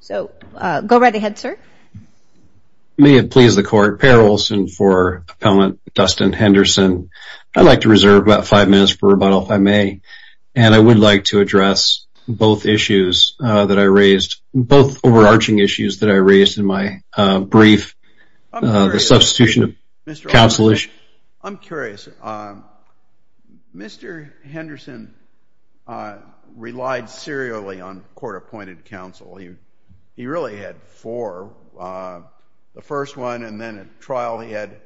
So go right ahead sir May it please the court payrolls and for pellant Dustin Henderson I'd like to reserve about five minutes for rebuttal if I may and I would like to address Both issues that I raised both overarching issues that I raised in my brief the substitution of counsel is Mr. Henderson Relied serially on court-appointed counsel you he really had for the first one and then at trial he had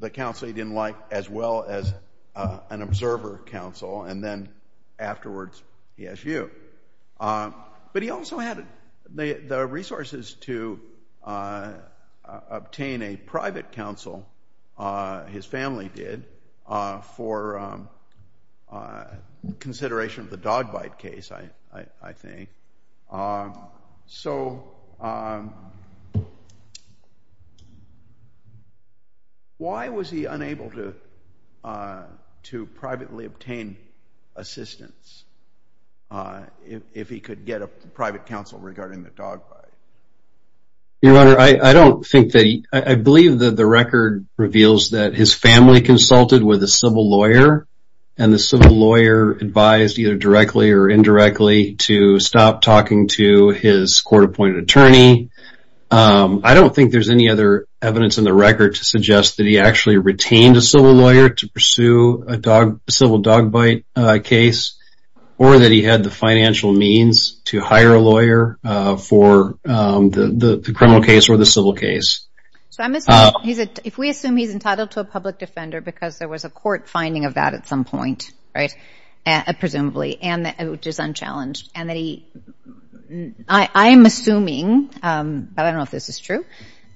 The counsel he didn't like as well as an observer counsel and then afterwards yes you but he also had the resources to Obtain a private counsel his family did for A consideration of the dog bite case I I think so Why was he unable to to privately obtain assistance If he could get a private counsel regarding the dog Your honor. I I don't think that I believe that the record reveals that his family consulted with a civil lawyer And the civil lawyer advised either directly or indirectly to stop talking to his court-appointed attorney I don't think there's any other evidence in the record to suggest that he actually retained a civil lawyer to pursue a dog civil dog bite case Or that he had the financial means to hire a lawyer for the criminal case or the civil case So I'm assuming he's a if we assume he's entitled to a public defender because there was a court finding of that at some point right and presumably and that it was unchallenged and that he I I'm assuming But I don't know if this is true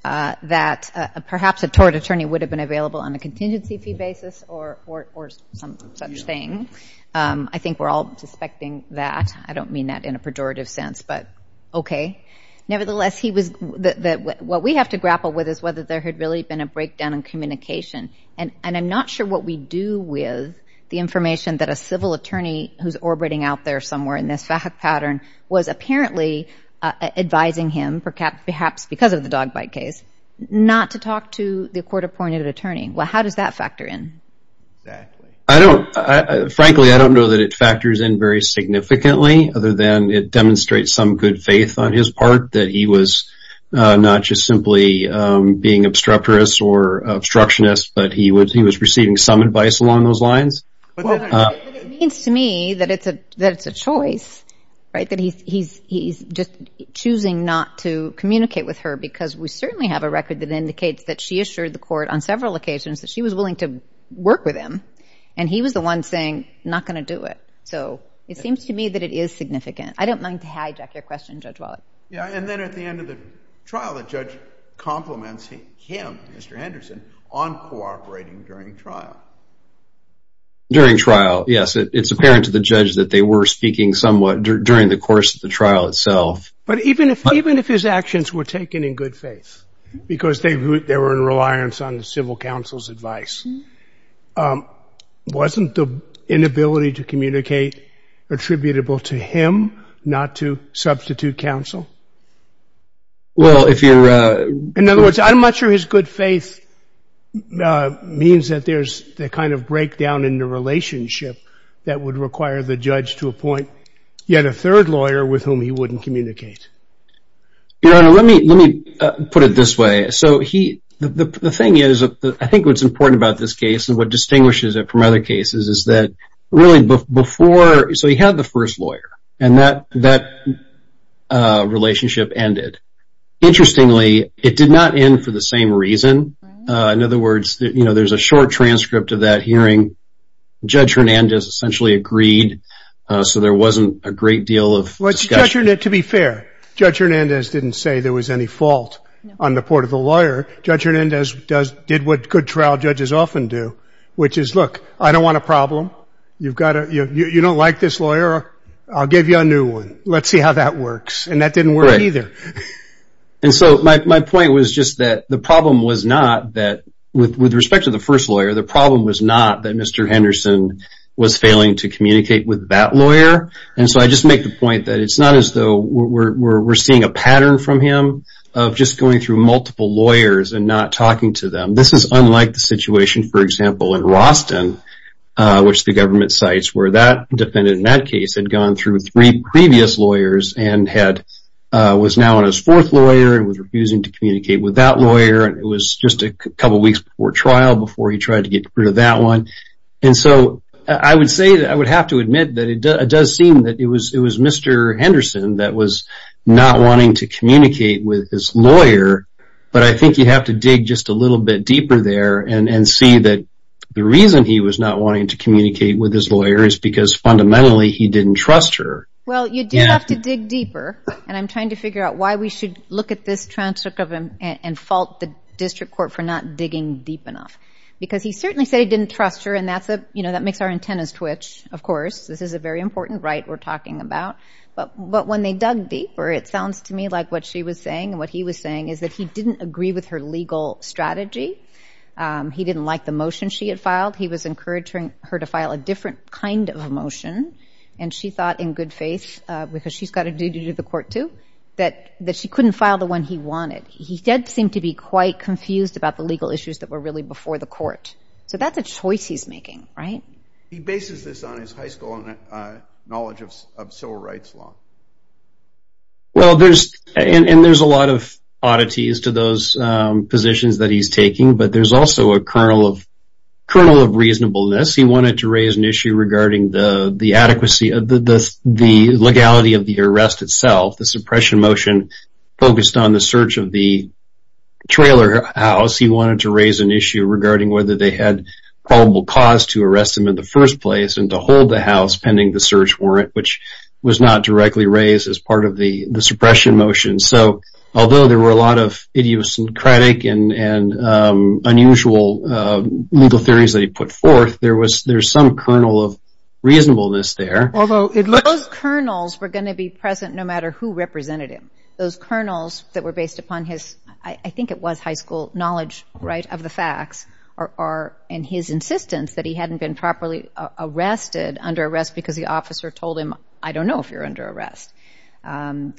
That perhaps a tort attorney would have been available on a contingency fee basis or or some such thing I think we're all suspecting that I don't mean that in a pejorative sense, but okay Nevertheless he was that what we have to grapple with is whether there had really been a breakdown in communication and and I'm not sure what We do with the information that a civil attorney who's orbiting out there somewhere in this fact pattern was apparently Advising him perhaps perhaps because of the dog bite case not to talk to the court-appointed attorney. Well, how does that factor in? I don't Frankly I don't know that it factors in very Significantly other than it demonstrates some good faith on his part that he was Not just simply being obstreperous or obstructionist, but he would he was receiving some advice along those lines It's to me that it's a that's a choice right that he's he's just choosing not to Communicate with her because we certainly have a record that indicates that she assured the court on several occasions that she was willing to Work with him and he was the one saying not going to do it. So it seems to me that it is significant I don't mind to hijack your question judge. Well, yeah And then at the end of the trial the judge compliments him. Mr. Henderson on cooperating during trial During trial. Yes, it's apparent to the judge that they were speaking somewhat during the course of the trial itself But even if even if his actions were taken in good faith Because they they were in reliance on the civil counsel's advice Wasn't the inability to communicate attributable to him not to substitute counsel Well, if you're in other words, I'm not sure his good faith Means that there's the kind of breakdown in the relationship that would require the judge to appoint Yet a third lawyer with whom he wouldn't communicate Your honor, let me let me put it this way so he the thing is that I think what's important about this case and what distinguishes it from other cases is that Really before so he had the first lawyer and that that Relationship ended Interestingly, it did not end for the same reason in other words, you know, there's a short transcript of that hearing Judge Hernandez essentially agreed So there wasn't a great deal of To be fair judge Hernandez didn't say there was any fault on the part of the lawyer Judge Hernandez does did what good trial judges often do which is look. I don't want a problem You've got it. You don't like this lawyer. I'll give you a new one Let's see how that works and that didn't work either And so my point was just that the problem was not that with respect to the first lawyer The problem was not that. Mr. Henderson was failing to communicate with that lawyer and so I just make the point that it's not as though we're Seeing a pattern from him of just going through multiple lawyers and not talking to them This is unlike the situation for example in Roston which the government sites were that defendant in that case had gone through three previous lawyers and had Was now on his fourth lawyer and was refusing to communicate with that lawyer It was just a couple weeks before trial before he tried to get rid of that one And so I would say that I would have to admit that it does seem that it was it was mr Henderson that was not wanting to communicate with his lawyer But I think you have to dig just a little bit deeper there and and see that The reason he was not wanting to communicate with his lawyer is because fundamentally he didn't trust her Well, you do have to dig deeper And I'm trying to figure out why we should look at this transcript of him and fault the district court for not digging deep enough Because he certainly said he didn't trust her and that's a you know, that makes our antennas twitch. Of course This is a very important right we're talking about But but when they dug deeper it sounds to me like what she was saying what he was saying is that he didn't agree with her legal strategy He didn't like the motion. She had filed He was encouraging her to file a different kind of a motion and she thought in good faith Because she's got a duty to the court to that that she couldn't file the one he wanted He did seem to be quite confused about the legal issues that were really before the court. So that's a choice He's making right Well, there's and there's a lot of oddities to those positions that he's taking but there's also a kernel of kernel of reasonableness He wanted to raise an issue regarding the the adequacy of the the legality of the arrest itself the suppression motion focused on the search of the Trailer house. He wanted to raise an issue regarding whether they had probable cause to arrest him in the first place and to hold the house pending the search warrant which Was not directly raised as part of the the suppression motion. So although there were a lot of idiosyncratic and unusual Legal theories that he put forth there was there's some kernel of Reasonableness there, although it was kernels were going to be present No matter who represented him those kernels that were based upon his I think it was high school knowledge Right of the facts are in his insistence that he hadn't been properly Arrested under arrest because the officer told him I don't know if you're under arrest You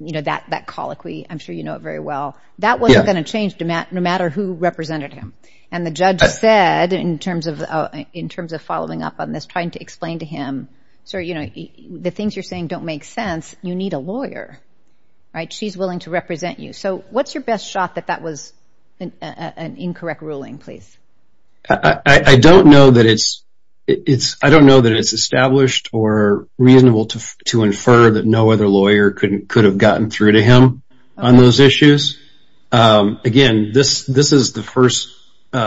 know that that colloquy I'm sure you know it very well that wasn't going to change to Matt no matter who Represented him and the judge said in terms of in terms of following up on this trying to explain to him So, you know the things you're saying don't make sense. You need a lawyer Right. She's willing to represent you. So what's your best shot that that was an Incorrect ruling, please. I Don't know that it's it's I don't know that it's established or Reasonable to to infer that no other lawyer couldn't could have gotten through to him on those issues Again this this is the first We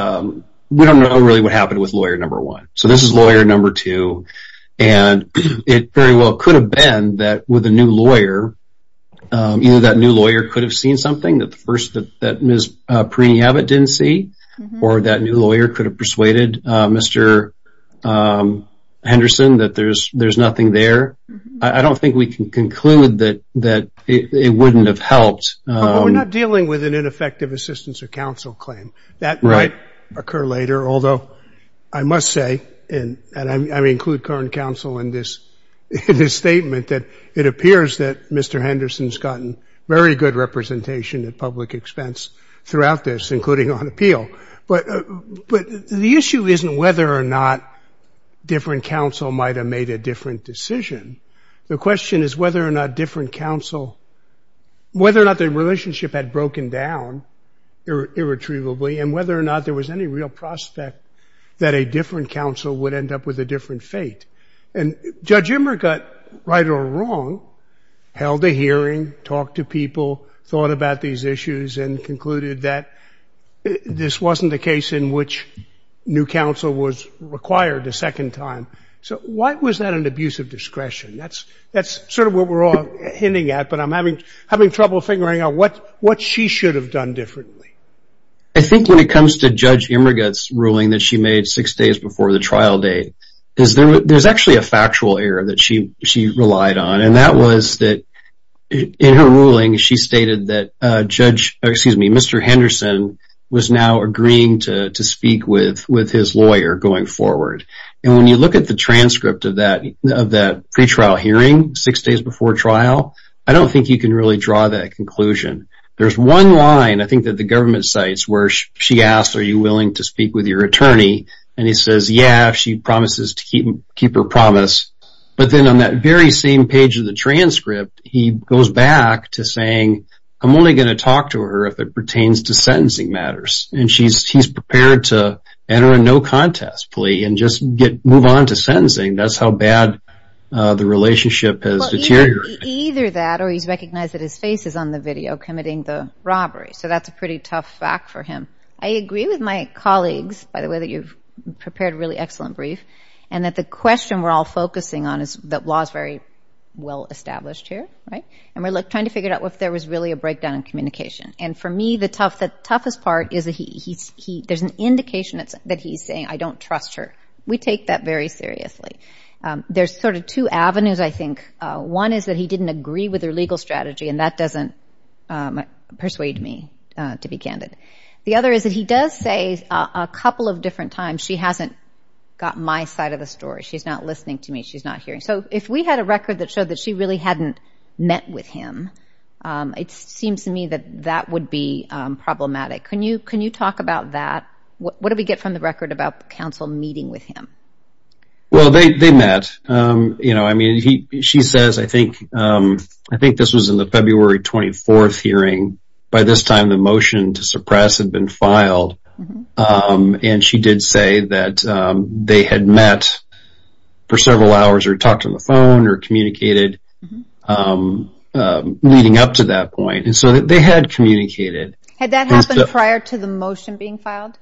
don't know really what happened with lawyer. Number one. So this is lawyer. Number two, and It very well could have been that with a new lawyer Either that new lawyer could have seen something that the first that Ms. Preeny Abbott didn't see or that new lawyer could have persuaded. Mr Henderson that there's there's nothing there. I don't think we can conclude that that it wouldn't have helped Dealing with an ineffective assistance of counsel claim that right occur later Although I must say in and I mean include current counsel in this In his statement that it appears that mr Henderson's gotten very good representation at public expense throughout this including on appeal but But the issue isn't whether or not Different counsel might have made a different decision. The question is whether or not different counsel Whether or not the relationship had broken down Irretrievably and whether or not there was any real prospect that a different counsel would end up with a different fate and Judge Emmer got right or wrong Held a hearing talked to people thought about these issues and concluded that This wasn't the case in which New counsel was required a second time. So why was that an abuse of discretion? That's that's sort of what we're all hinting at but I'm having having trouble figuring out what what she should have done differently I think when it comes to judge Emmer gets ruling that she made six days before the trial date Is there there's actually a factual error that she she relied on and that was that? In her ruling she stated that judge excuse me Mr Henderson was now agreeing to to speak with with his lawyer going forward and when you look at the transcript of that of that Pre-trial hearing six days before trial. I don't think you can really draw that conclusion. There's one line I think that the government sites where she asked are you willing to speak with your attorney? And he says yeah, she promises to keep keep her promise But then on that very same page of the transcript he goes back to saying I'm only going to talk to her if it pertains to sentencing matters and she's prepared to enter a no-contest Plea and just get move on to sentencing. That's how bad The relationship has deteriorated Either that or he's recognized that his face is on the video committing the robbery. So that's a pretty tough fact for him I agree with my colleagues by the way that you've prepared really excellent brief and that the question We're all focusing on is that was very well established here, right? And we're like trying to figure out if there was really a breakdown in communication and for me the tough that toughest part is a he He's he there's an indication. It's that he's saying. I don't trust her. We take that very seriously There's sort of two avenues I think one is that he didn't agree with her legal strategy and that doesn't Persuade me to be candid. The other is that he does say a couple of different times She hasn't got my side of the story. She's not listening to me. She's not hearing So if we had a record that showed that she really hadn't met with him It seems to me that that would be problematic. Can you can you talk about that? What do we get from the record about the council meeting with him? Well, they met You know, I mean he she says I think I think this was in the February 24th hearing by this time The motion to suppress had been filed And she did say that they had met for several hours or talked on the phone or communicated Leading up to that point and so that they had communicated had that happened prior to the motion being filed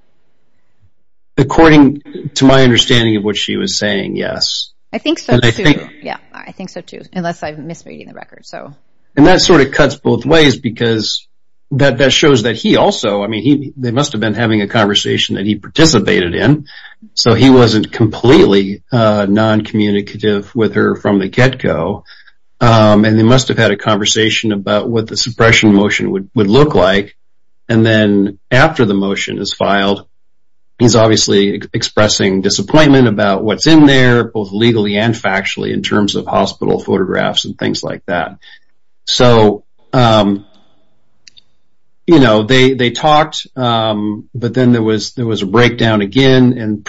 According to my understanding of what she was saying, yes, I think so yeah, I think so too unless I've misreading the record so and that sort of cuts both ways because That that shows that he also I mean he they must have been having a conversation that he participated in so he wasn't completely Non-communicative with her from the get-go and they must have had a conversation about what the suppression motion would would look like and then after the motion is filed and He's obviously expressing disappointment about what's in there both legally and factually in terms of hospital photographs and things like that so You know, they they talked but then there was there was a breakdown again and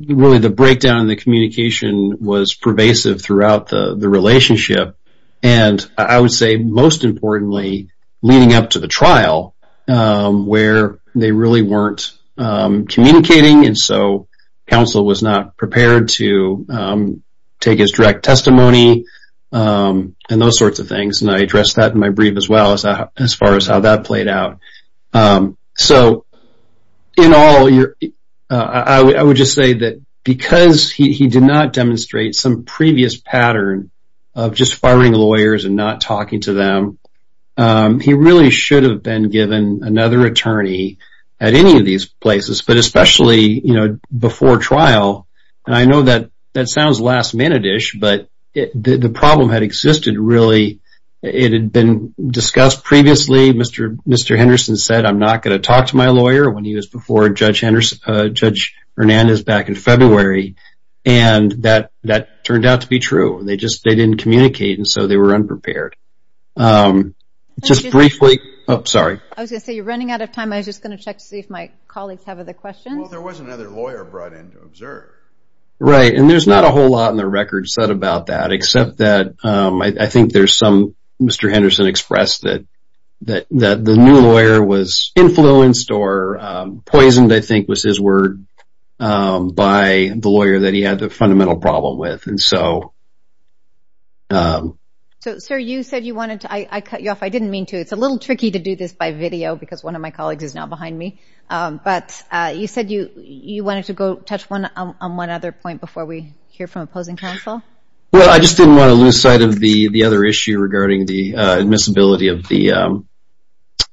really the breakdown in the communication was pervasive throughout the the relationship and I would say most importantly Leading up to the trial Where they really weren't? Communicating and so counsel was not prepared to Take his direct testimony And those sorts of things and I addressed that in my brief as well as I as far as how that played out so in all your I Would just say that because he did not demonstrate some previous pattern of just firing lawyers and not talking to them He really should have been given another attorney at any of these places, but especially you know before trial And I know that that sounds last-minute ish, but the problem had existed really it had been discussed previously Mr. Mr. Henderson said I'm not going to talk to my lawyer when he was before judge Henderson judge Hernandez back in February and That that turned out to be true. They just they didn't communicate and so they were unprepared Just briefly. Oh, sorry. I was gonna say you're running out of time I was just gonna check to see if my colleagues have other questions Right and there's not a whole lot in the record said about that except that I think there's some mr. Henderson expressed that that that the new lawyer was influenced or Poisoned I think was his word by the lawyer that he had the fundamental problem with and so So Sir, you said you wanted to I cut you off I didn't mean to it's a little tricky to do this by video because one of my colleagues is now behind me But you said you you wanted to go touch one on one other point before we hear from opposing counsel well, I just didn't want to lose sight of the the other issue regarding the admissibility of the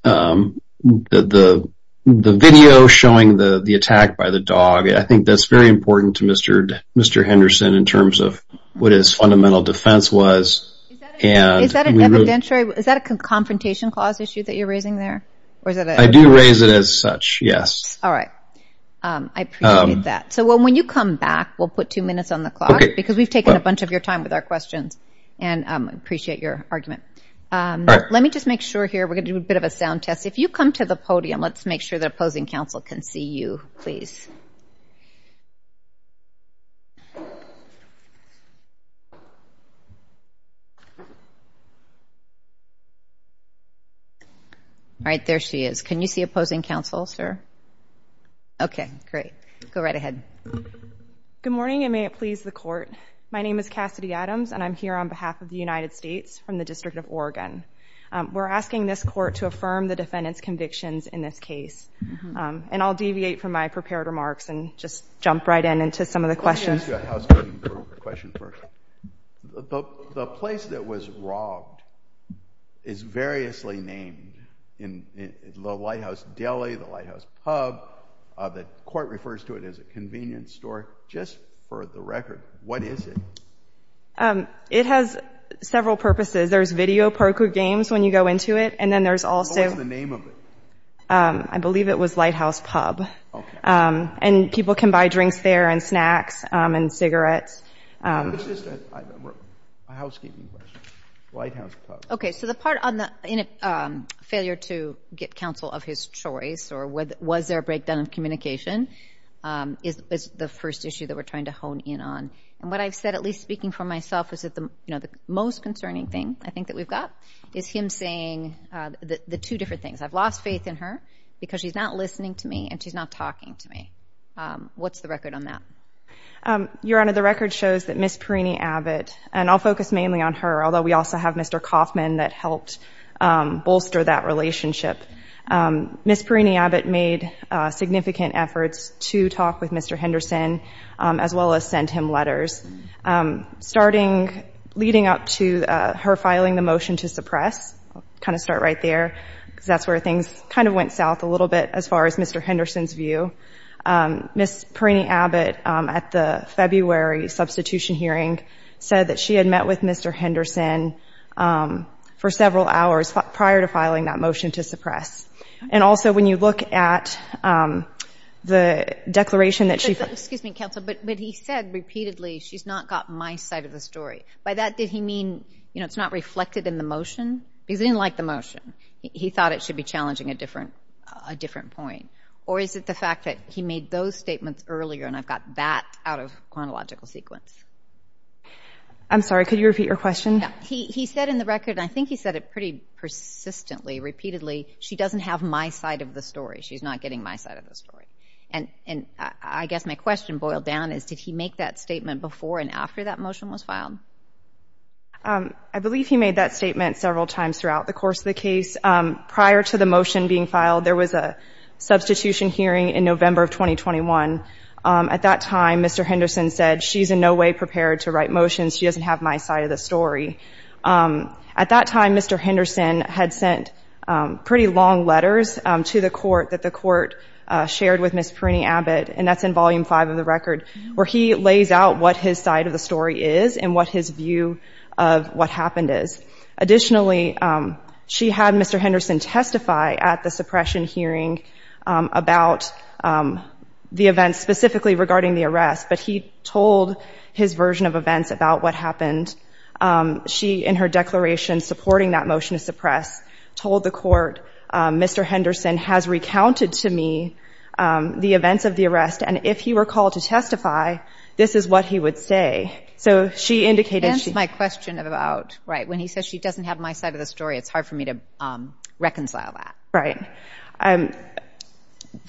The the video showing the the attack by the dog, I think that's very important to mr. Mr. Henderson in terms of what his fundamental defense was Is that a confrontation clause issue that you're raising there I do raise it as such yes, all right I Need that so when you come back we'll put two minutes on the clock because we've taken a bunch of your time with our questions and Appreciate your argument Let me just make sure here. We're gonna do a bit of a sound test if you come to the podium Let's make sure that opposing counsel can see you please You All right, there she is can you see opposing counsel sir? Okay, great. Go right ahead Good morning, and may it please the court? My name is Cassidy Adams, and I'm here on behalf of the United States from the District of Oregon We're asking this court to affirm the defendants convictions in this case And I'll deviate from my prepared remarks and just jump right in into some of the questions The place that was robbed is variously named in The lighthouse deli the lighthouse pub that court refers to it as a convenience store just for the record What is it? It has several purposes. There's video poker games when you go into it, and then there's also the name of it I believe it was lighthouse pub And people can buy drinks there and snacks and cigarettes Okay, so the part on the Failure to get counsel of his choice, or what was there a breakdown of communication? Is the first issue that we're trying to hone in on and what I've said at least speaking for myself Is that the you know the most concerning thing? I think that we've got is him saying that the two different things I've lost faith in her because she's not listening to me, and she's not talking to me What's the record on that? Your honor the record shows that miss Perini Abbott, and I'll focus mainly on her although. We also have mr.. Kaufman that helped bolster that relationship Miss Perini Abbott made significant efforts to talk with mr.. Henderson as well as sent him letters Starting leading up to her filing the motion to suppress Kind of start right there because that's where things kind of went south a little bit as far as mr.. Henderson's view Miss Perini Abbott at the February substitution hearing said that she had met with mr. Henderson for several hours prior to filing that motion to suppress and also when you look at The Declaration that chief excuse me counsel, but he said repeatedly She's not got my side of the story by that did he mean you know it's not reflected in the motion He's didn't like the motion He thought it should be challenging a different a different point or is it the fact that he made those statements earlier And I've got that out of chronological sequence I'm sorry could you repeat your question? He said in the record. I think he said it pretty Persistently repeatedly she doesn't have my side of the story She's not getting my side of the story and and I guess my question boiled down is did he make that statement before and after? That motion was filed I believe he made that statement several times throughout the course of the case prior to the motion being filed there was a Substitution hearing in November of 2021 at that time mr.. Henderson said she's in no way prepared to write motions She doesn't have my side of the story At that time mr. Henderson had sent pretty long letters to the court that the court Shared with Miss Perini Abbott And that's in volume 5 of the record where he lays out what his side of the story is and what his view of What happened is? Additionally she had mr. Henderson testify at the suppression hearing about The events specifically regarding the arrest, but he told his version of events about what happened She in her declaration supporting that motion to suppress told the court mr. Henderson has recounted to me The events of the arrest and if he were called to testify This is what he would say so she indicated my question about right when he says she doesn't have my side of the story It's hard for me to reconcile that right and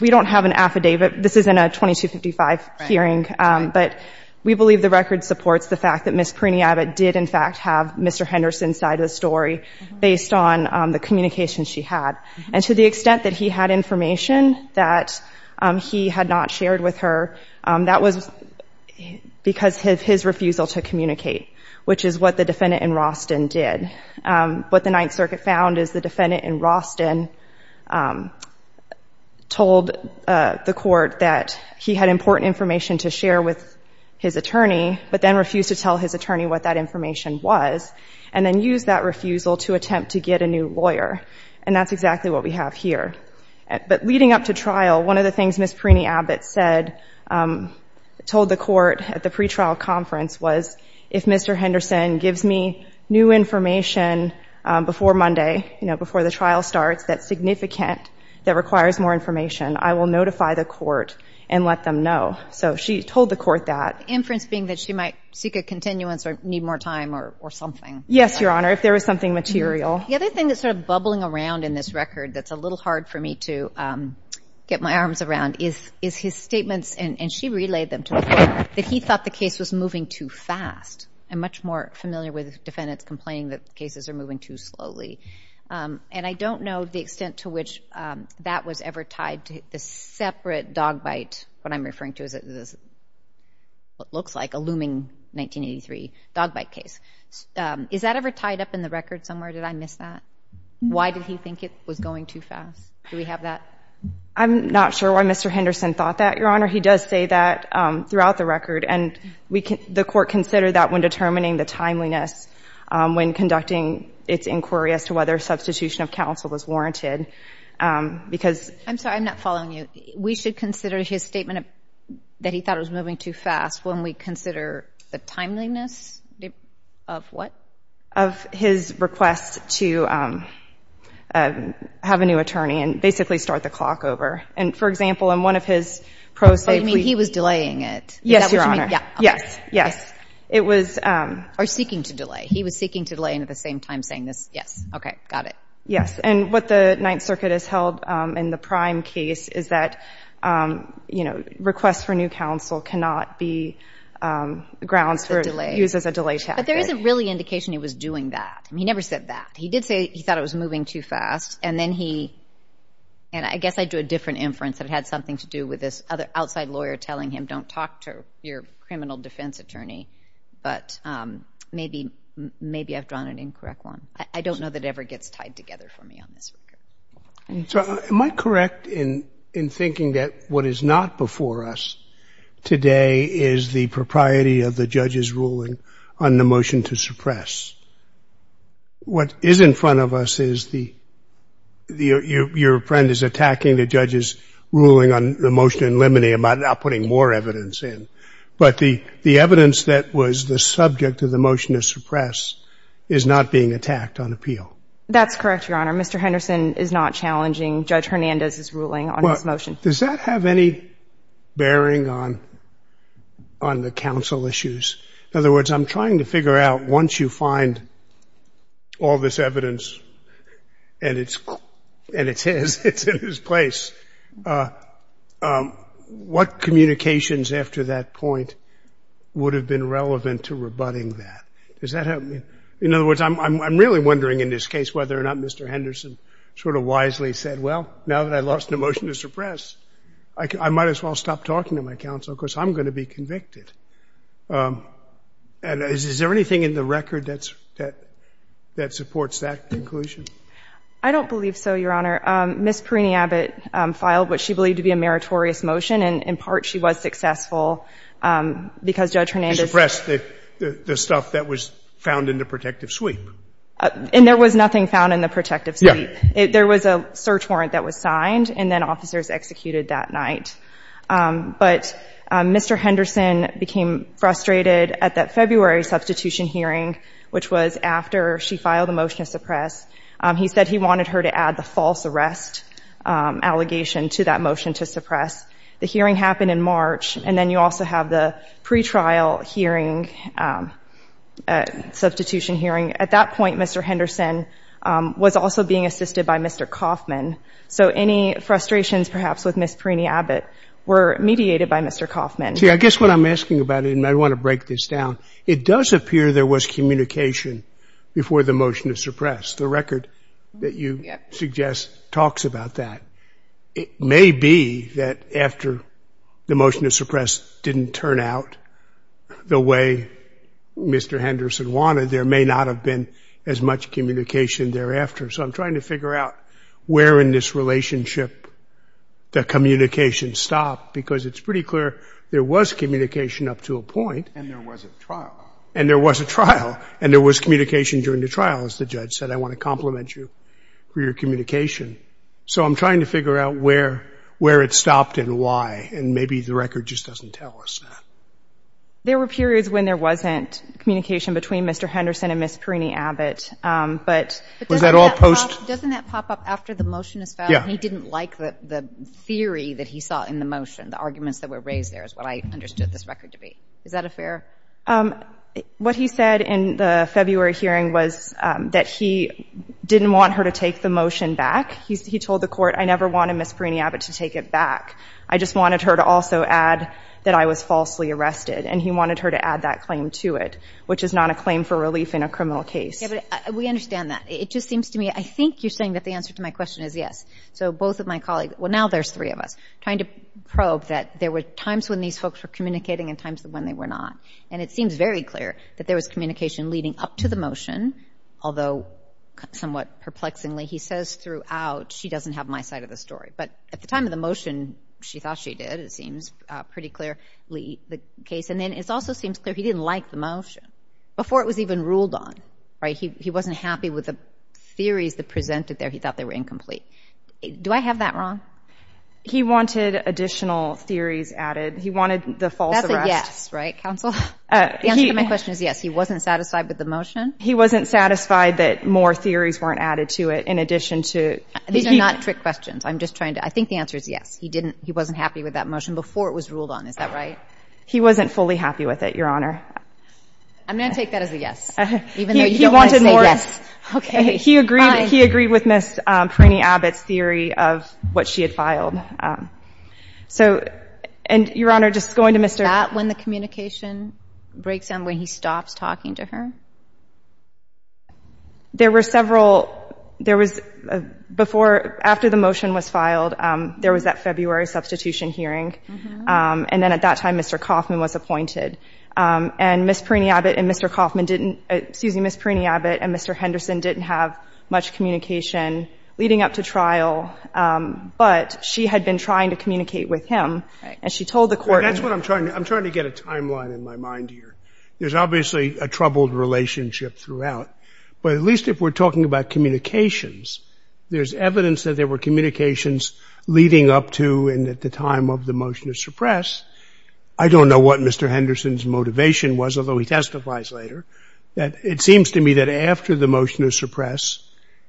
We don't have an affidavit This isn't a 2255 hearing, but we believe the record supports the fact that Miss Perini Abbott did in fact have mr. Henderson side of the story based on the communication she had and to the extent that he had information that He had not shared with her that was Because his refusal to communicate which is what the defendant in Roston did What the Ninth Circuit found is the defendant in Roston? Told The court that he had important information to share with his attorney But then refused to tell his attorney what that information was and then use that refusal to attempt to get a new lawyer And that's exactly what we have here, but leading up to trial one of the things Miss Perini Abbott said Told the court at the pretrial conference was if mr. Henderson gives me new information Before Monday, you know before the trial starts that's significant that requires more information I will notify the court and let them know so she told the court that Inference being that she might seek a continuance or need more time or something Yes, your honor if there was something material the other thing that sort of bubbling around in this record That's a little hard for me to Get my arms around is is his statements and and she relayed them to her that he thought the case was moving too fast And much more familiar with defendants complaining that cases are moving too slowly And I don't know the extent to which that was ever tied to the separate dog bite what I'm referring to is it this What looks like a looming? 1983 dog bite case Is that ever tied up in the record somewhere? Did I miss that? Why did he think it was going too fast? Do we have that? I'm not sure why mr. Henderson thought that your honor He does say that throughout the record and we can the court consider that when determining the timeliness When conducting its inquiry as to whether substitution of counsel was warranted Because I'm sorry, I'm not following you. We should consider his statement that he thought it was moving too fast when we consider the timeliness of what of his requests to Have a new attorney and basically start the clock over and for example in one of his pros, I mean he was delaying it Yes, your honor. Yeah. Yes. Yes, it was or seeking to delay He was seeking to delay and at the same time saying this. Yes. Okay. Got it yes, and what the Ninth Circuit has held in the prime case is that you know requests for new counsel cannot be Grounds for delay uses a delay. Yeah, but there isn't really indication. He was doing that. He never said that he did say He thought it was moving too fast. And then he And I guess I drew a different inference that had something to do with this other outside lawyer telling him don't talk to your criminal defense attorney, but Maybe maybe I've drawn an incorrect one. I don't know that ever gets tied together for me on this So am I correct in in thinking that what is not before us? Today is the propriety of the judge's ruling on the motion to suppress What is in front of us is the The your friend is attacking the judge's ruling on the motion in limineum I'm not putting more evidence in but the the evidence that was the subject of the motion to suppress Is not being attacked on appeal. That's correct. Your honor. Mr. Henderson is not challenging. Judge Hernandez is ruling on this motion Does that have any? bearing on The council issues in other words, I'm trying to figure out once you find All this evidence and it's and it says it's in his place What communications after that point Would have been relevant to rebutting that does that help me? In other words, I'm really wondering in this case whether or not. Mr Henderson sort of wisely said well now that I lost the motion to suppress I Might as well stop talking to my counsel because I'm going to be convicted And is there anything in the record that's that that supports that conclusion I don't believe so your honor miss Perini Abbott Filed what she believed to be a meritorious motion and in part she was successful Because judge Hernandez pressed the the stuff that was found in the protective sweep And there was nothing found in the protective There was a search warrant that was signed and then officers executed that night but Mr. Henderson became frustrated at that February substitution hearing which was after she filed a motion to suppress He said he wanted her to add the false arrest Allegation to that motion to suppress the hearing happened in March and then you also have the pretrial hearing Substitution hearing at that point. Mr. Henderson Was also being assisted by mr. Kauffman so any frustrations perhaps with miss Perini Abbott were mediated by mr. Kauffman see I guess what I'm asking about it and I want to break this down It does appear there was communication before the motion to suppress the record that you suggest talks about that It may be that after the motion to suppress didn't turn out the way Mr. Henderson wanted there may not have been as much communication thereafter. So I'm trying to figure out where in this relationship the communication stopped because it's pretty clear there was communication up to a point and There was a trial and there was communication during the trial as the judge said I want to compliment you for your communication So I'm trying to figure out where where it stopped and why and maybe the record just doesn't tell us There were periods when there wasn't communication between mr. Henderson and miss Perini Abbott But was that all post doesn't that pop up after the motion is found? He didn't like the theory that he saw in the motion the arguments that were raised There is what I understood this record debate. Is that a fair? What he said in the February hearing was that he didn't want her to take the motion back He told the court I never wanted miss Perini Abbott to take it back I just wanted her to also add that I was falsely arrested and he wanted her to add that claim to it Which is not a claim for relief in a criminal case We understand that it just seems to me. I think you're saying that the answer to my question is yes So both of my colleagues well now there's three of us trying to probe that there were times when these folks were Communicating and times when they were not and it seems very clear that there was communication leading up to the motion. Although Somewhat perplexingly he says throughout she doesn't have my side of the story But at the time of the motion, she thought she did it seems pretty clearly the case and then it's also seems clear He didn't like the motion before it was even ruled on right? He wasn't happy with the theories that presented there He thought they were incomplete. Do I have that wrong? He wanted additional theories added. He wanted the false. Yes, right counsel Yes, he wasn't satisfied with the motion. He wasn't satisfied that more theories weren't added to it in addition to these are not trick questions I'm just trying to I think the answer is yes He didn't he wasn't happy with that motion before it was ruled on. Is that right? He wasn't fully happy with it. Your honor I'm gonna take that as a yes Okay, he agreed he agreed with miss Perrini Abbott's theory of what she had filed So and your honor just going to mr. Not when the communication breaks him when he stops talking to her There were several there was Before after the motion was filed there was that February substitution hearing and then at that time, mr. Kaufman was appointed And miss Perrini Abbott and mr. Kaufman didn't excuse me. Miss Perrini Abbott and mr. Henderson didn't have much communication leading up to trial But she had been trying to communicate with him and she told the court That's what I'm trying to I'm trying to get a timeline in my mind here There's obviously a troubled relationship throughout but at least if we're talking about communications There's evidence that there were communications leading up to and at the time of the motion to suppress. I don't know what mr Henderson's motivation was although he testifies later that it seems to me that after the motion is suppressed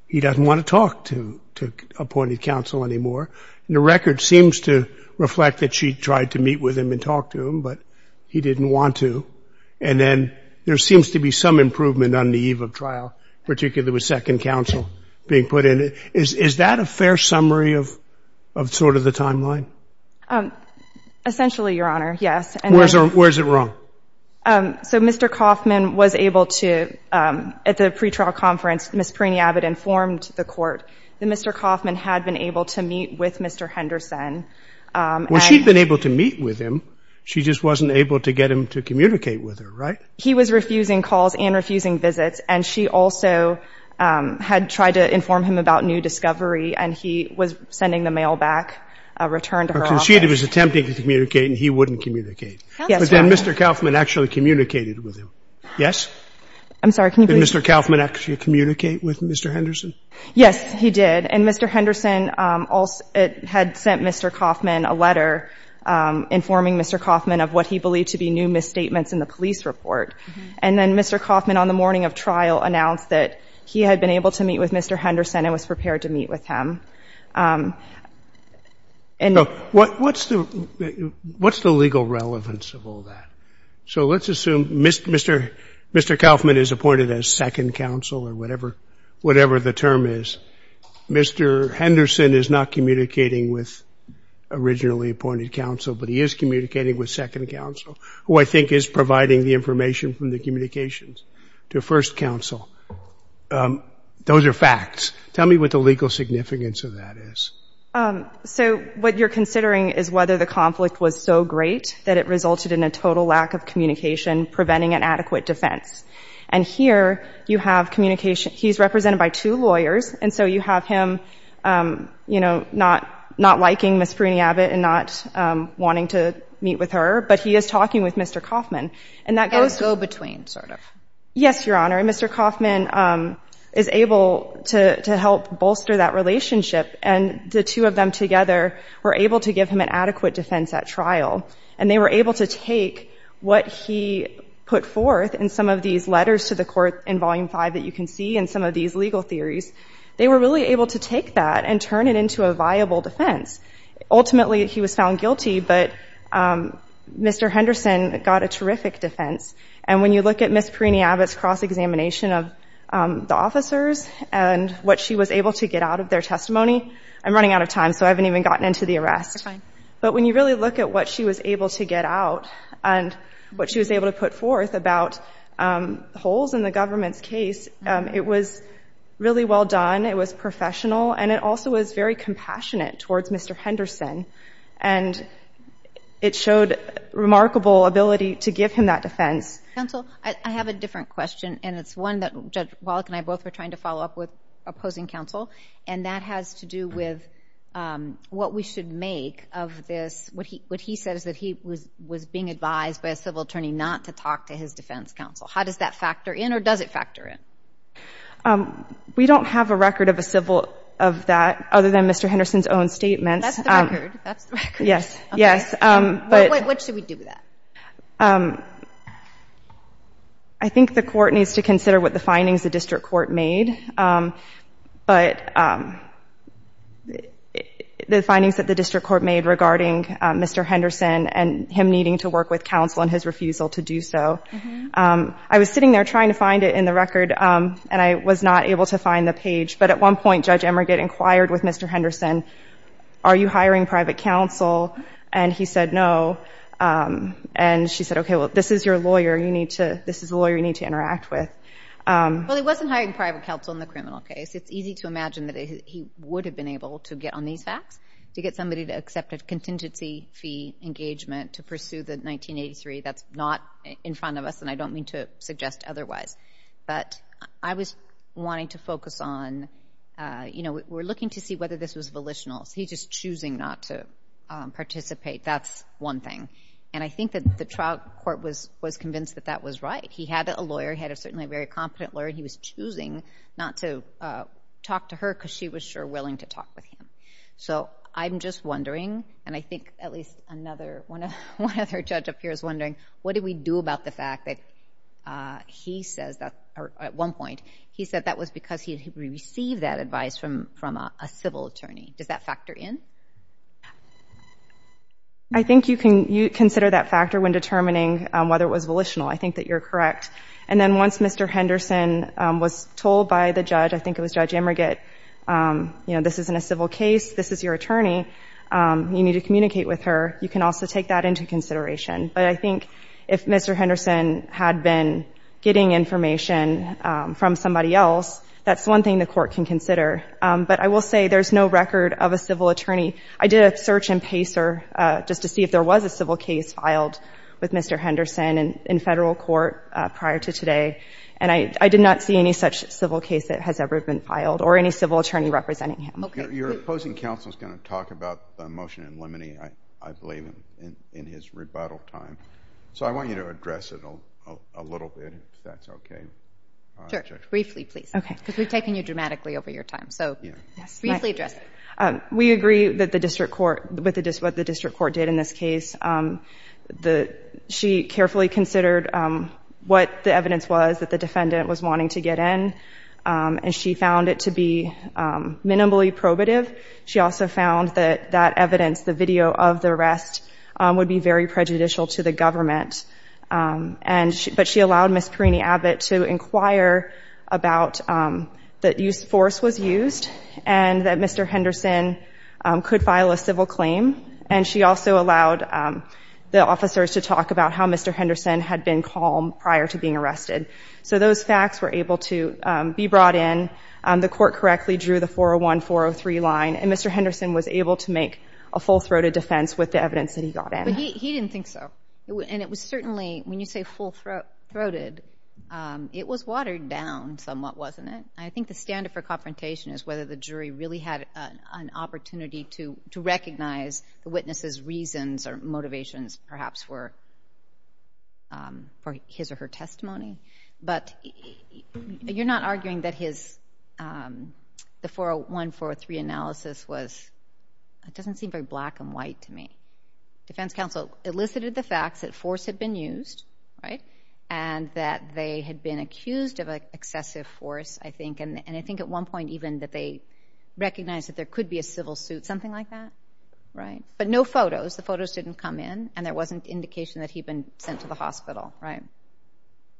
He doesn't want to talk to took appointed counsel anymore the record seems to reflect that she tried to meet with him and talk to him, but he didn't want to and Then there seems to be some improvement on the eve of trial particularly with second counsel being put in it Is that a fair summary of of sort of the timeline? Essentially your honor. Yes, and where's our where's it wrong? So mr. Kaufman was able to at the pretrial conference. Miss Perrini Abbott informed the court the mr Kaufman had been able to meet with mr. Henderson Well, she'd been able to meet with him she just wasn't able to get him to communicate with her, right He was refusing calls and refusing visits and she also Had tried to inform him about new discovery and he was sending the mail back Returned to her conceded was attempting to communicate and he wouldn't communicate. Yes, mr. Kaufman actually communicated with him. Yes I'm sorry. Can you mr. Kaufman actually communicate with mr. Henderson? Yes, he did and mr Henderson also it had sent mr. Kaufman a letter Informing mr. Kaufman of what he believed to be new misstatements in the police report and then mr Kaufman on the morning of trial announced that he had been able to meet with mr. Henderson and was prepared to meet with him And what what's the What's the legal relevance of all that? So let's assume mr. Mr. Mr Kaufman is appointed as second counsel or whatever whatever the term is Mr. Henderson is not communicating with Originally appointed counsel, but he is communicating with second counsel who I think is providing the information from the communications to first counsel Those are facts. Tell me what the legal significance of that is So what you're considering is whether the conflict was so great that it resulted in a total lack of communication Preventing an adequate defense and here you have communication. He's represented by two lawyers. And so you have him You know not not liking miss Pruney Abbott and not Wanting to meet with her but he is talking with mr. Kaufman and that goes go between sort of yes, your honor And mr. Kaufman is able to help bolster that relationship and the two of them together Were able to give him an adequate defense at trial and they were able to take what he Put forth and some of these letters to the court in volume 5 that you can see and some of these legal theories They were really able to take that and turn it into a viable defense ultimately, he was found guilty, but Mr. Henderson got a terrific defense and when you look at miss Pruney Abbott's cross-examination of The officers and what she was able to get out of their testimony. I'm running out of time so I haven't even gotten into the arrest, but when you really look at what she was able to get out and What she was able to put forth about Holes in the government's case. It was really well done. It was professional and it also was very compassionate towards. Mr. Henderson and It showed Remarkable ability to give him that defense counsel I have a different question and it's one that judge walk and I both were trying to follow up with Opposing counsel and that has to do with What we should make of this What he what he says that he was was being advised by a civil attorney not to talk to his defense counsel How does that factor in or does it factor in? We don't have a record of a civil of that other than mr. Henderson's own statements Yes. Yes, but what should we do with that? I Think the court needs to consider what the findings the district court made but The Findings that the district court made regarding mr. Henderson and him needing to work with counsel and his refusal to do so I was sitting there trying to find it in the record and I was not able to find the page But at one point judge Emmer get inquired with mr. Henderson. Are you hiring private counsel? And he said no And she said okay. Well, this is your lawyer. You need to this is a lawyer. You need to interact with Well, he wasn't hiring private counsel in the criminal case It's easy to imagine that he would have been able to get on these facts to get somebody to accept a contingency fee Engagement to pursue the 1983 that's not in front of us and I don't mean to suggest otherwise But I was wanting to focus on You know, we're looking to see whether this was volitionals. He's just choosing not to Participate that's one thing and I think that the trial court was was convinced that that was right He had a lawyer had a certainly very competent lawyer. He was choosing not to Talk to her because she was sure willing to talk with him So I'm just wondering and I think at least another one of her judge up here is wondering What did we do about the fact that? He says that at one point he said that was because he received that advice from from a civil attorney Does that factor in I? Think you can you consider that factor when determining whether it was volitional. I think that you're correct and then once mr Henderson was told by the judge. I think it was judge Emmer get You know, this isn't a civil case. This is your attorney You need to communicate with her. You can also take that into consideration, but I think if mr Henderson had been getting information from somebody else That's one thing the court can consider but I will say there's no record of a civil attorney I did a search and pacer just to see if there was a civil case filed with mr Henderson and in federal court prior to today and I I did not see any such civil case that has ever been filed or any Civil attorney representing him. Okay, you're opposing counsel is going to talk about the motion and limiting I I believe in his rebuttal time. So I want you to address it a little bit. That's okay Briefly, please. Okay, because we've taken you dramatically over your time. So yeah, yes briefly address We agree that the district court with the dis what the district court did in this case The she carefully considered what the evidence was that the defendant was wanting to get in And she found it to be Minimally probative she also found that that evidence the video of the rest would be very prejudicial to the government And but she allowed miss Perini Abbott to inquire about That use force was used and that mr. Henderson Could file a civil claim and she also allowed The officers to talk about how mr. Henderson had been calm prior to being arrested So those facts were able to be brought in the court correctly drew the 401 403 line And mr. Henderson was able to make a full-throated defense with the evidence that he got in He didn't think so it would and it was certainly when you say full throat throated It was watered down somewhat wasn't it? I think the standard for confrontation is whether the jury really had an opportunity to to recognize the witnesses reasons or motivations perhaps were For his or her testimony, but you're not arguing that his the 401 403 analysis was It doesn't seem very black and white to me Defense counsel elicited the facts that force had been used right and that they had been accused of an excessive force I think and I think at one point even that they Recognize that there could be a civil suit something like that Right, but no photos the photos didn't come in and there wasn't indication that he'd been sent to the hospital right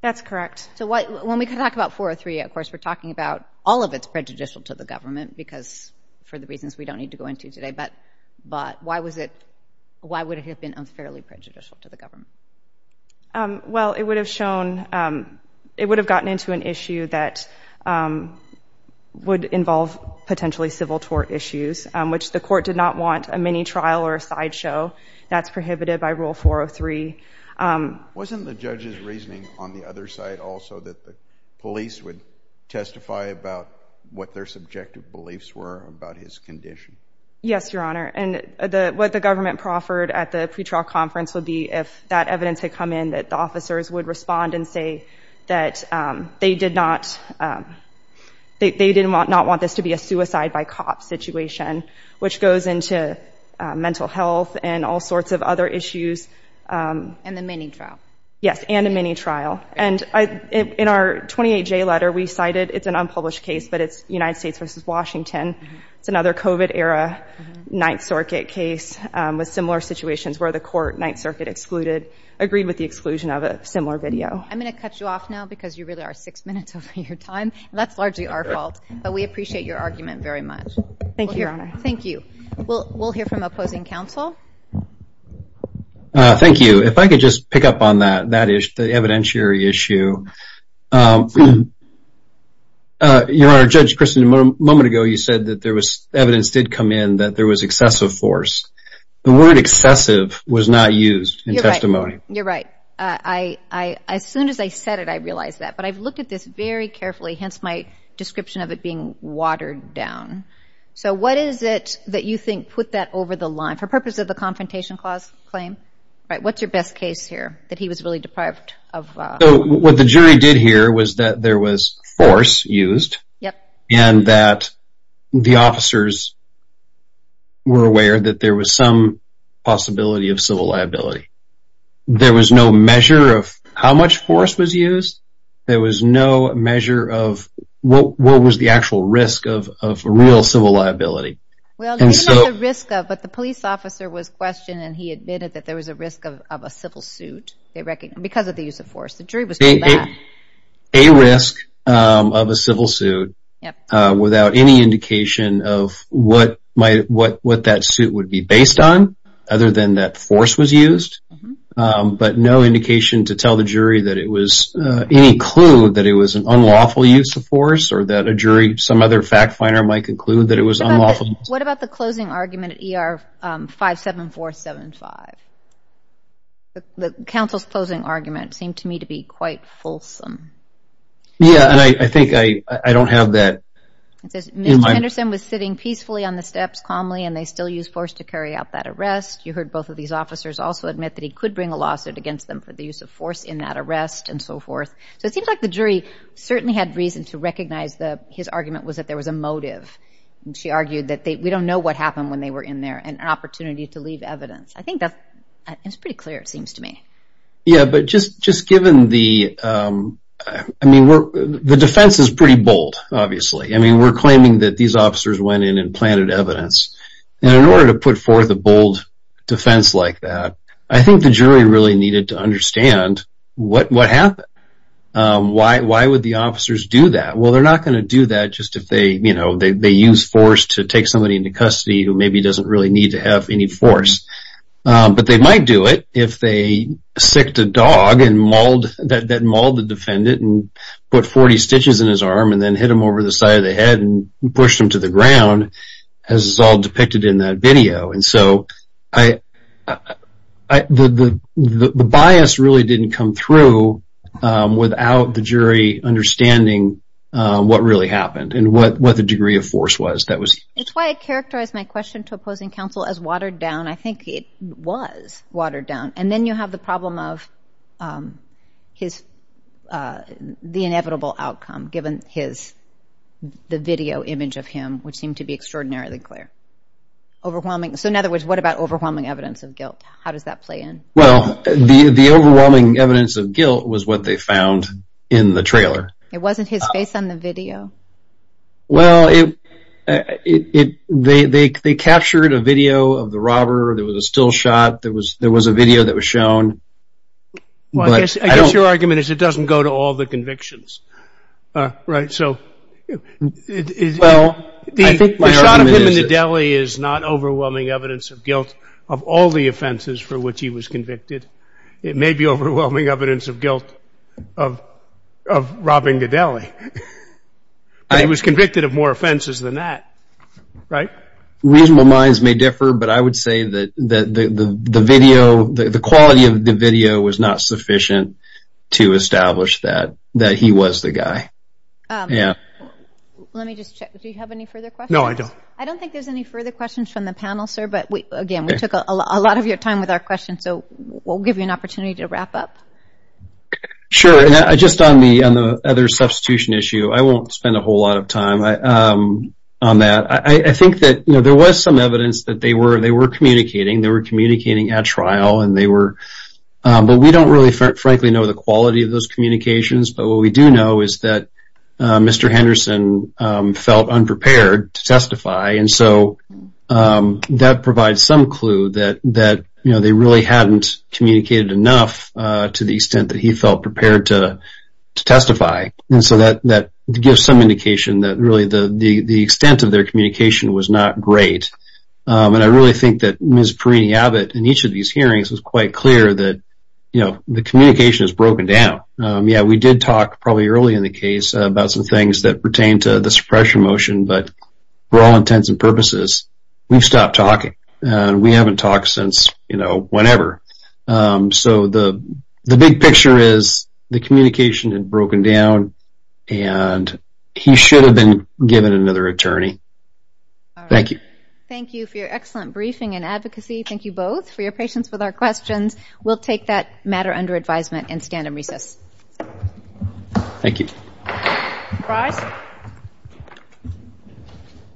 That's correct, so what when we could talk about 403 of course We're talking about all of its prejudicial to the government because for the reasons We don't need to go into today, but but why was it? Why would it have been unfairly prejudicial to the government? Well, it would have shown it would have gotten into an issue that Would involve potentially civil tort issues which the court did not want a mini trial or a sideshow That's prohibited by rule 403 Wasn't the judge's reasoning on the other side also that the police would testify about What their subjective beliefs were about his condition? Yes, your honor and the what the government proffered at the pretrial conference would be if that evidence had come in that the officers would respond and say that they did not They didn't want not want this to be a suicide by cop situation which goes into mental health and all sorts of other issues And the mini trial yes and a mini trial and I in our 28 J letter we cited It's an unpublished case, but it's United States versus Washington. It's another kovat era Ninth Circuit case with similar situations where the court Ninth Circuit excluded agreed with the exclusion of a similar video I'm gonna cut you off now because you really are six minutes of your time That's largely our fault, but we appreciate your argument very much. Thank you. Thank you. Well, we'll hear from opposing counsel Thank you, if I could just pick up on that that is the evidentiary issue Your honor judge Kristen a moment ago You said that there was evidence did come in that there was excessive force the word excessive was not used in testimony You're right. I As soon as I said it I realized that but I've looked at this very carefully hence my description of it being watered down So, what is it that you think put that over the line for purpose of the confrontation clause claim, right? What's your best case here that he was really deprived of? What the jury did here was that there was force used. Yep, and that the officers Were aware that there was some possibility of civil liability There was no measure of how much force was used There was no measure of what what was the actual risk of a real civil liability But the police officer was questioned and he admitted that there was a risk of a civil suit They reckon because of the use of force the jury was a risk of a civil suit Without any indication of what might what what that suit would be based on other than that force was used But no indication to tell the jury that it was Any clue that it was an unlawful use of force or that a jury some other fact finder might conclude that it was unlawful What about the closing argument at ER? five seven four seven five The council's closing argument seemed to me to be quite fulsome Yeah, and I think I I don't have that Anderson was sitting peacefully on the steps calmly and they still use force to carry out that arrest You heard both of these officers also admit that he could bring a lawsuit against them for the use of force in that arrest And so forth So it seems like the jury certainly had reason to recognize the his argument was that there was a motive And she argued that they we don't know what happened when they were in there and an opportunity to leave evidence I think that it's pretty clear. It seems to me. Yeah, but just just given the I mean, we're the defense is pretty bold. Obviously I mean we're claiming that these officers went in and planted evidence and in order to put forth a bold Defense like that. I think the jury really needed to understand what what happened Why why would the officers do that? Well, they're not going to do that Just if they you know, they use force to take somebody into custody who maybe doesn't really need to have any force but they might do it if they sicked a dog and mauled that that mauled the defendant and Put 40 stitches in his arm and then hit him over the side of the head and pushed him to the ground As is all depicted in that video and so I The the bias really didn't come through without the jury Understanding what really happened and what what the degree of force was that was it's why I characterized my question to opposing counsel as watered-down I think it was watered down and then you have the problem of his the inevitable outcome given his The video image of him which seemed to be extraordinarily clear Overwhelming. So in other words, what about overwhelming evidence of guilt? How does that play in? Well, the the overwhelming evidence of guilt was what they found in the trailer. It wasn't his face on the video well It they they captured a video of the robber. There was a still shot. There was there was a video that was shown Well, I guess your argument is it doesn't go to all the convictions Right, so Is not overwhelming evidence of guilt of all the offenses for which he was convicted it may be overwhelming evidence of guilt of Robbing the deli I was convicted of more offenses than that right reasonable minds may differ, but I would say that the the video the quality of the video was not sufficient to Establish that that he was the guy Yeah No, I don't I don't think there's any further questions from the panel sir But we again we took a lot of your time with our question. So we'll give you an opportunity to wrap up Sure, and I just on me on the other substitution issue. I won't spend a whole lot of time On that. I think that you know, there was some evidence that they were they were communicating they were communicating at trial and they were But we don't really frankly know the quality of those communications, but what we do know is that Mr. Henderson felt unprepared to testify and so That provides some clue that that, you know, they really hadn't communicated enough to the extent that he felt prepared to Testify and so that that gives some indication that really the the extent of their communication was not great And I really think that Miss Perini Abbott in each of these hearings was quite clear that you know, the communication is broken down Yeah, we did talk probably early in the case about some things that pertain to the suppression motion But for all intents and purposes, we've stopped talking and we haven't talked since you know, whenever so the the big picture is the communication had broken down and He should have been given another attorney Thank you, thank you for your excellent briefing and advocacy, thank you both for your patience with our questions We'll take that matter under advisement and stand in recess Thank you